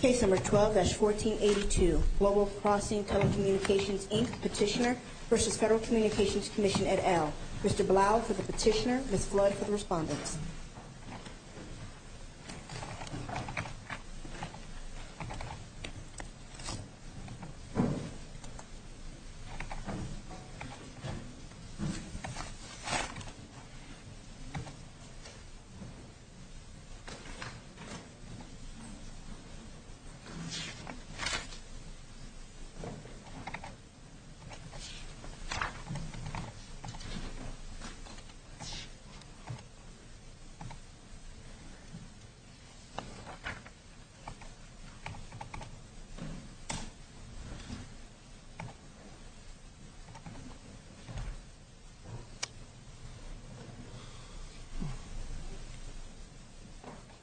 Case No. 12-1482 Global Crossing Telecommunications, Inc. Petitioner v. Federal Communications Commission, et al. Mr. Blau for the petitioner, Ms. Flood for the respondent.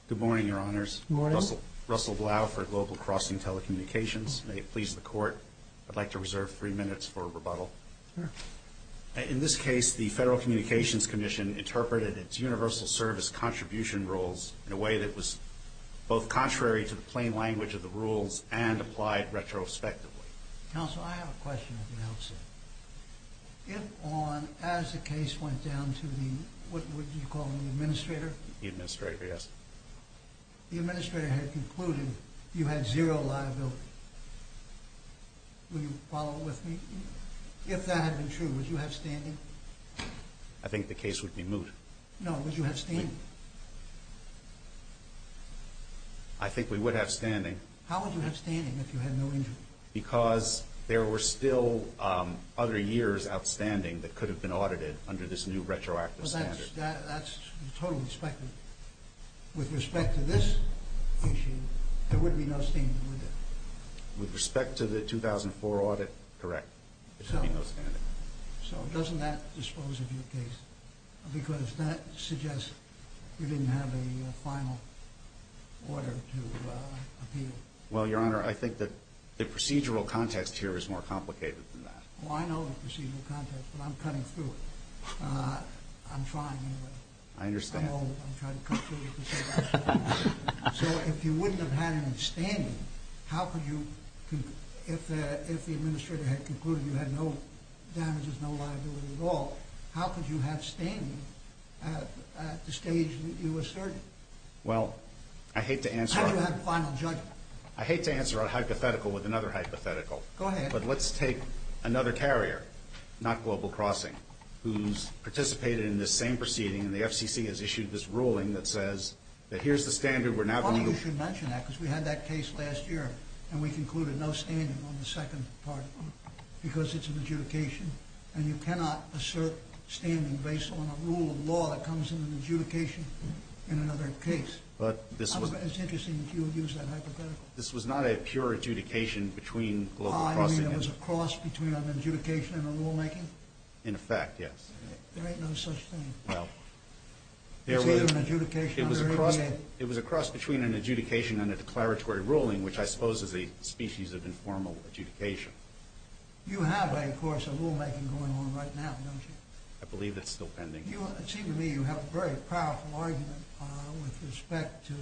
Good morning, Your Honors. Good morning. Russell Blau for Global Crossing Telecommunications. May it please the Court, I'd like to reserve three minutes for rebuttal. Sure. In this case, the Federal Communications Commission interpreted its universal service contribution rules in a way that was both contrary to the plain language of the rules and applied retrospectively. Counsel, I have a question at the outset. If on, as the case went down to the, what would you call it, the administrator? The administrator, yes. The administrator had concluded you had zero liability. Will you follow with me? If that had been true, would you have standing? I think the case would be moot. No, would you have standing? I think we would have standing. How would you have standing if you had no injury? Because there were still other years outstanding that could have been audited under this new retroactive standard. That's totally expected. With respect to this issue, there would be no standing, would there? With respect to the 2004 audit, correct. There would be no standing. So doesn't that dispose of your case? Because that suggests you didn't have a final order to appeal. Well, Your Honor, I think that the procedural context here is more complicated than that. Well, I know the procedural context, but I'm cutting through it. I'm trying anyway. I understand. I'm old. I'm trying to cut through the procedural context. So if you wouldn't have had any standing, how could you, if the administrator had concluded you had no damages, no liability at all, how could you have standing at the stage that you asserted? Well, I hate to answer. How do you have final judgment? I hate to answer a hypothetical with another hypothetical. Go ahead. But let's take another carrier, not Global Crossing, who's participated in this same proceeding, and the FCC has issued this ruling that says that here's the standard. Well, you should mention that because we had that case last year, and we concluded no standing on the second part of it because it's an adjudication, and you cannot assert standing based on a rule of law that comes in an adjudication in another case. It's interesting that you would use that hypothetical. Well, this was not a pure adjudication between Global Crossing. Ah, you mean it was a cross between an adjudication and a rulemaking? In effect, yes. There ain't no such thing. Well, there was a cross between an adjudication and a declaratory ruling, which I suppose is a species of informal adjudication. You have, of course, a rulemaking going on right now, don't you? I believe it's still pending. It seems to me you have a very powerful argument with respect to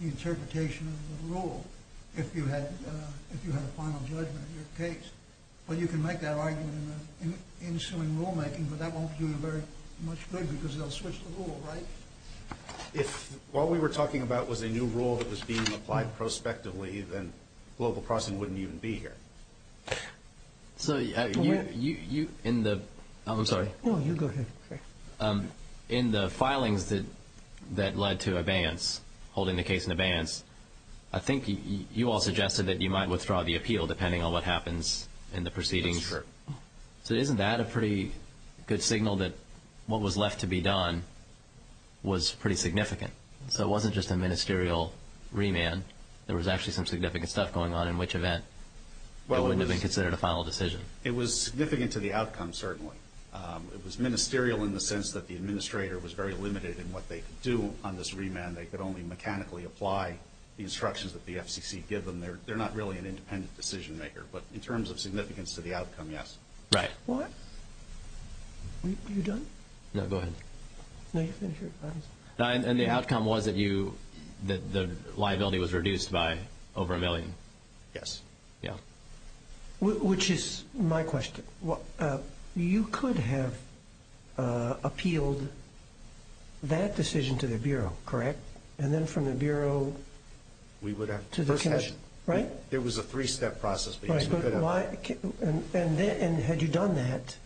the interpretation of the rule if you had a final judgment in your case. Well, you can make that argument in the ensuing rulemaking, but that won't do you very much good because they'll switch the rule, right? If what we were talking about was a new rule that was being applied prospectively, then Global Crossing wouldn't even be here. So in the filings that led to abeyance, holding the case in abeyance, I think you all suggested that you might withdraw the appeal depending on what happens in the proceedings. So isn't that a pretty good signal that what was left to be done was pretty significant? So it wasn't just a ministerial remand. There was actually some significant stuff going on in which event it wouldn't have been considered a final decision. It was significant to the outcome, certainly. It was ministerial in the sense that the administrator was very limited in what they could do on this remand. They could only mechanically apply the instructions that the FCC gave them. They're not really an independent decision-maker. But in terms of significance to the outcome, yes. Right. What? Are you done? No, go ahead. And the outcome was that the liability was reduced by over a million? Yes. Yeah. Which is my question. You could have appealed that decision to the Bureau, correct? And then from the Bureau to the Commission, right? It was a three-step process. And had you done that,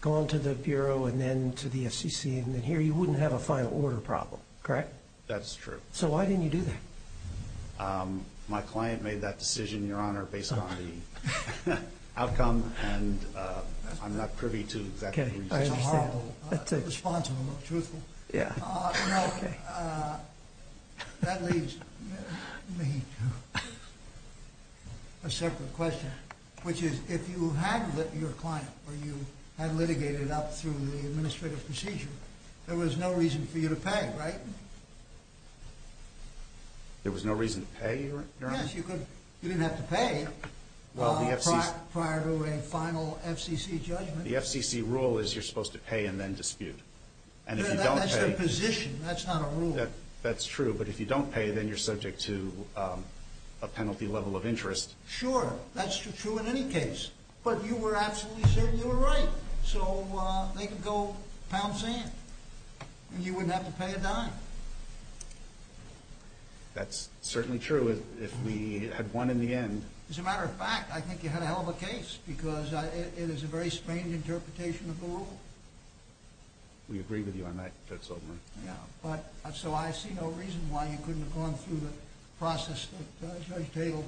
gone to the Bureau and then to the FCC and then here, you wouldn't have a final order problem, correct? That's true. So why didn't you do that? My client made that decision, Your Honor, based on the outcome, and I'm not privy to that. Okay. I understand. Yeah. No, that leads me to a separate question, which is if you had your client or you had litigated up through the administrative procedure, there was no reason for you to pay, right? There was no reason to pay, Your Honor? Yes, you didn't have to pay prior to a final FCC judgment. The FCC rule is you're supposed to pay and then dispute. That's the position. That's not a rule. That's true. But if you don't pay, then you're subject to a penalty level of interest. Sure. That's true in any case. But you were absolutely certain you were right, so they could go pound sand and you wouldn't have to pay a dime. That's certainly true if we had won in the end. As a matter of fact, I think you had a hell of a case because it is a very strained interpretation of the rule. We agree with you on that, Judge Soberman. Yeah. So I see no reason why you couldn't have gone through the process that Judge Tatel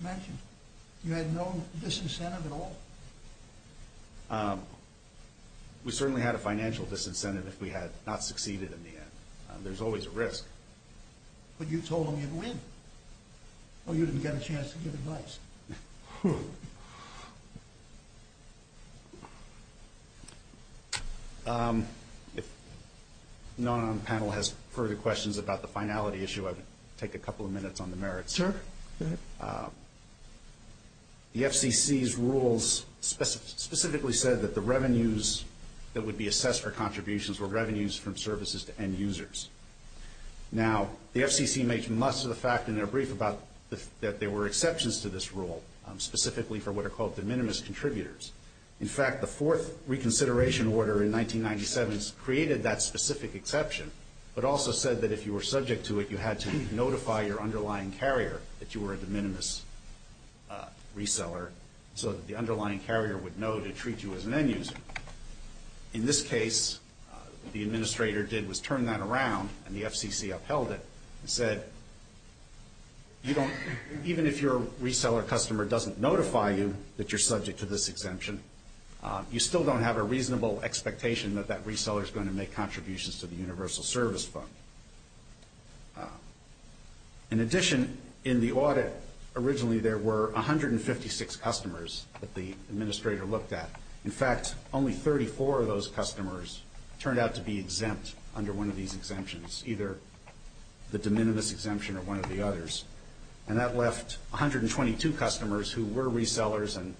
mentioned. You had no disincentive at all. We certainly had a financial disincentive if we had not succeeded in the end. There's always a risk. But you told them you'd win. Well, you didn't get a chance to give advice. If none on the panel has further questions about the finality issue, I would take a couple of minutes on the merits. Sure. Go ahead. The FCC's rules specifically said that the revenues that would be assessed for contributions were revenues from services to end users. Now, the FCC makes most of the fact in their brief about that there were exceptions to this rule, specifically for what are called de minimis contributors. In fact, the fourth reconsideration order in 1997 created that specific exception, but also said that if you were subject to it, you had to notify your underlying carrier that you were a de minimis reseller so that the underlying carrier would know to treat you as an end user. In this case, what the administrator did was turn that around, and the FCC upheld it, and said even if your reseller customer doesn't notify you that you're subject to this exemption, you still don't have a reasonable expectation that that reseller is going to make contributions to the universal service fund. In addition, in the audit, originally there were 156 customers that the administrator looked at. In fact, only 34 of those customers turned out to be exempt under one of these exemptions, either the de minimis exemption or one of the others, and that left 122 customers who were resellers and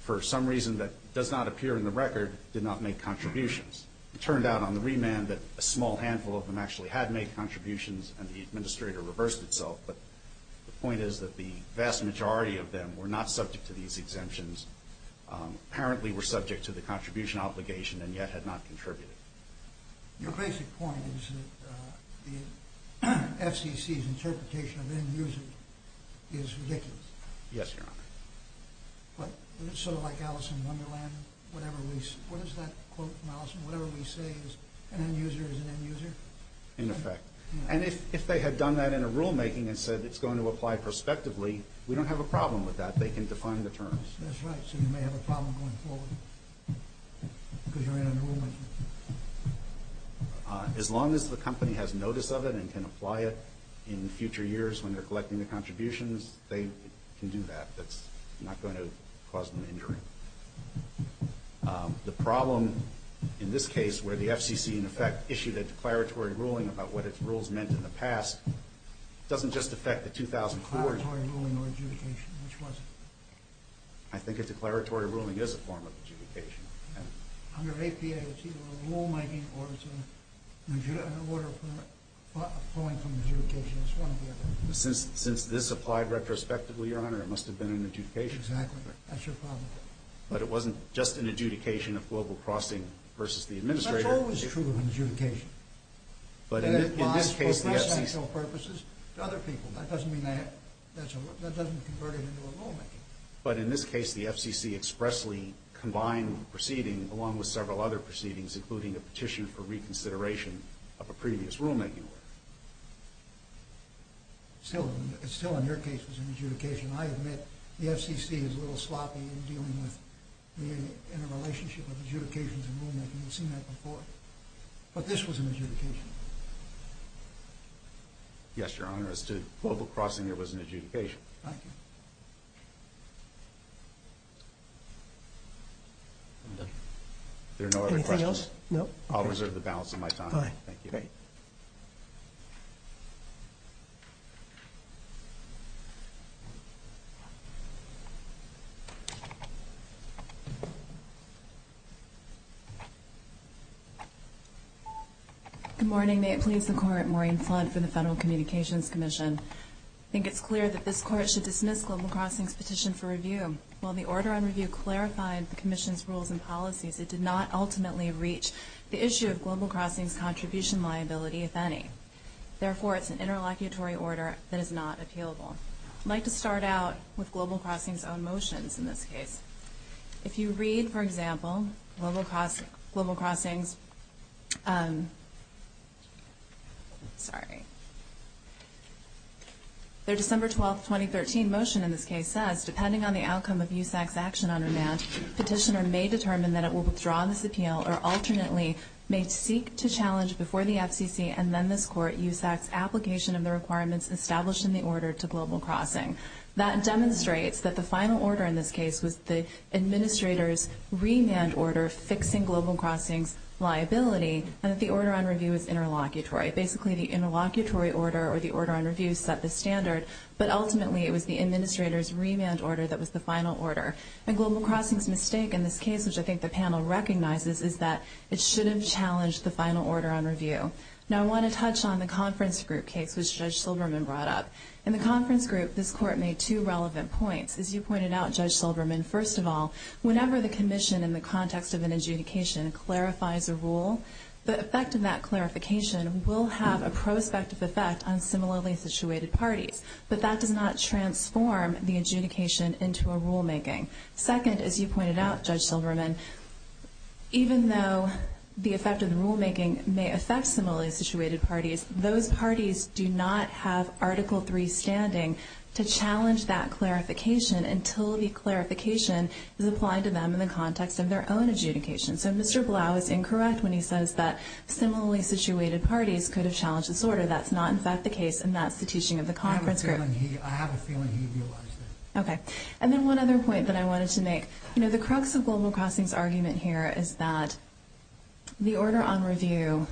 for some reason that does not appear in the record did not make contributions. It turned out on the remand that a small handful of them actually had made contributions, and the administrator reversed itself, but the point is that the vast majority of them were not subject to these exemptions. Apparently were subject to the contribution obligation and yet had not contributed. Your basic point is that the FCC's interpretation of end user is ridiculous. Yes, Your Honor. But isn't it sort of like Alice in Wonderland? Whatever we say is an end user is an end user? In effect. And if they had done that in a rulemaking and said it's going to apply prospectively, we don't have a problem with that. They can define the terms. That's right. So you may have a problem going forward because you're in a rulemaking. As long as the company has notice of it and can apply it in future years when they're collecting the contributions, they can do that. That's not going to cause them injury. The problem in this case where the FCC in effect issued a declaratory ruling about what its rules meant in the past doesn't just affect the 2000 courts. A declaratory ruling or adjudication, which was it? I think a declaratory ruling is a form of adjudication. Under APA, it's either a rulemaking or it's an order flowing from adjudication. Since this applied retrospectively, Your Honor, it must have been an adjudication. Exactly. That's your problem. But it wasn't just an adjudication of global crossing versus the administrator. That's always true of an adjudication. That applies for cross-sectional purposes to other people. That doesn't convert it into a rulemaking. But in this case, the FCC expressly combined the proceeding along with several other proceedings, including a petition for reconsideration of a previous rulemaking order. Still, in your case, it was an adjudication. I admit the FCC is a little sloppy in dealing with the interrelationship of adjudications and rulemaking. You've seen that before. But this was an adjudication. Yes, Your Honor, as to global crossing, it was an adjudication. Thank you. Are there no other questions? Anything else? No. I'll reserve the balance of my time. Thank you. Good morning. May it please the Court, Maureen Flunt for the Federal Communications Commission. I think it's clear that this Court should dismiss global crossing's petition for review. While the order on review clarified the Commission's rules and policies, it did not ultimately reach the issue of global crossing's contribution liability, if any. Therefore, it's an interlocutory order that is not appealable. I'd like to start out with global crossing's own motions in this case. If you read, for example, global crossing's Sorry. Their December 12, 2013 motion in this case says, depending on the outcome of USAC's action on remand, petitioner may determine that it will withdraw this appeal, or alternately may seek to challenge before the FCC and then this Court USAC's application of the requirements established in the order to global crossing. That demonstrates that the final order in this case was the administrator's remand order fixing global crossing's liability, and that the order on review is interlocutory. Basically, the interlocutory order or the order on review set the standard, but ultimately it was the administrator's remand order that was the final order. And global crossing's mistake in this case, which I think the panel recognizes, is that it shouldn't challenge the final order on review. Now, I want to touch on the conference group case, which Judge Silverman brought up. In the conference group, this Court made two relevant points. As you pointed out, Judge Silverman, first of all, whenever the commission in the context of an adjudication clarifies a rule, the effect of that clarification will have a prospective effect on similarly situated parties. But that does not transform the adjudication into a rulemaking. Second, as you pointed out, Judge Silverman, even though the effect of the rulemaking may affect similarly situated parties, those parties do not have Article III standing to challenge that clarification until the clarification is applied to them in the context of their own adjudication. So Mr. Blau is incorrect when he says that similarly situated parties could have challenged this order. That's not, in fact, the case, and that's the teaching of the conference group. I have a feeling he realized that. Okay. And then one other point that I wanted to make. You know, the crux of global crossing's argument here is that the order on review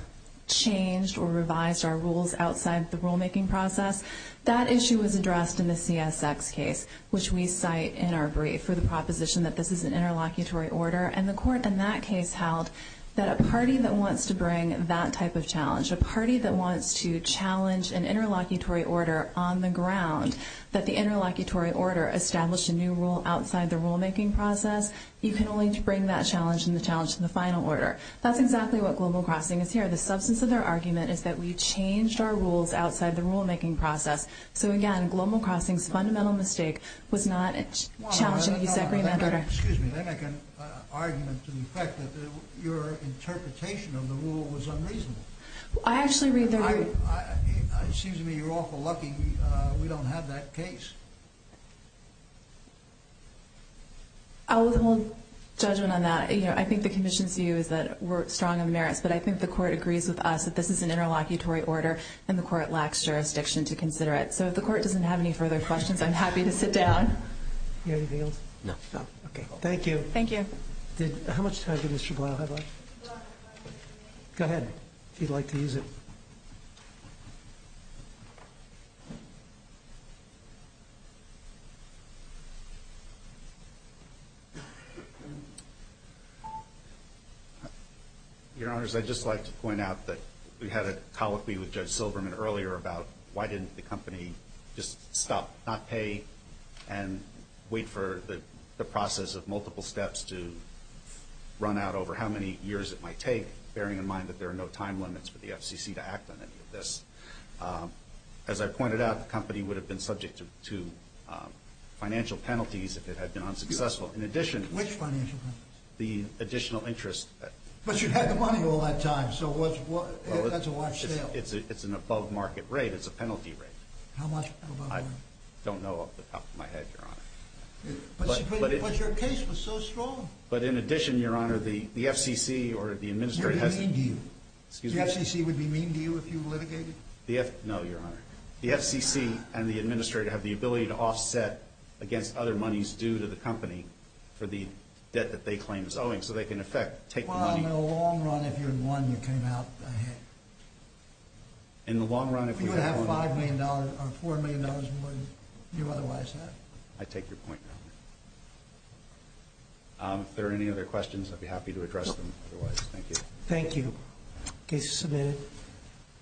changed or revised our rules outside the rulemaking process. That issue was addressed in the CSX case, which we cite in our brief for the proposition that this is an interlocutory order, and the court in that case held that a party that wants to bring that type of challenge, a party that wants to challenge an interlocutory order on the ground, that the interlocutory order established a new rule outside the rulemaking process, you can only bring that challenge and the challenge in the final order. That's exactly what global crossing is here. The substance of their argument is that we changed our rules outside the rulemaking process. So, again, global crossing's fundamental mistake was not challenging the secondary matter. Excuse me. They make an argument to the effect that your interpretation of the rule was unreasonable. I actually read the rule. I mean, it seems to me you're awful lucky we don't have that case. I'll withhold judgment on that. You know, I think the commission's view is that we're strong on merits, but I think the court agrees with us that this is an interlocutory order and the court lacks jurisdiction to consider it. So if the court doesn't have any further questions, I'm happy to sit down. Do you have anything else? No. Okay. Thank you. Thank you. How much time did Mr. Blau have left? Go ahead if you'd like to use it. Your Honors, I'd just like to point out that we had a colloquy with Judge Silberman earlier about why didn't the company just stop, not pay, and wait for the process of multiple steps to run out over how many years it might take, bearing in mind that there are no time limits for the FCC to act on any of this. As I pointed out, the company would have been subject to financial penalties if it had been unsuccessful. In addition... Which financial penalties? The additional interest... But you had the money all that time, so that's a large sale. It's an above market rate. It's a penalty rate. How much above market? I don't know off the top of my head, Your Honor. But your case was so strong. But in addition, Your Honor, the FCC or the administrator... Would be mean to you. Excuse me? No, Your Honor. The FCC and the administrator have the ability to offset against other monies due to the company for the debt that they claim is owing, so they can, in effect, take the money... Well, in the long run, if you had won, you came out ahead. In the long run, if we had won... You would have $5 million or $4 million more than you otherwise have. I take your point. If there are any other questions, I'd be happy to address them otherwise. Thank you. Thank you. Case is submitted.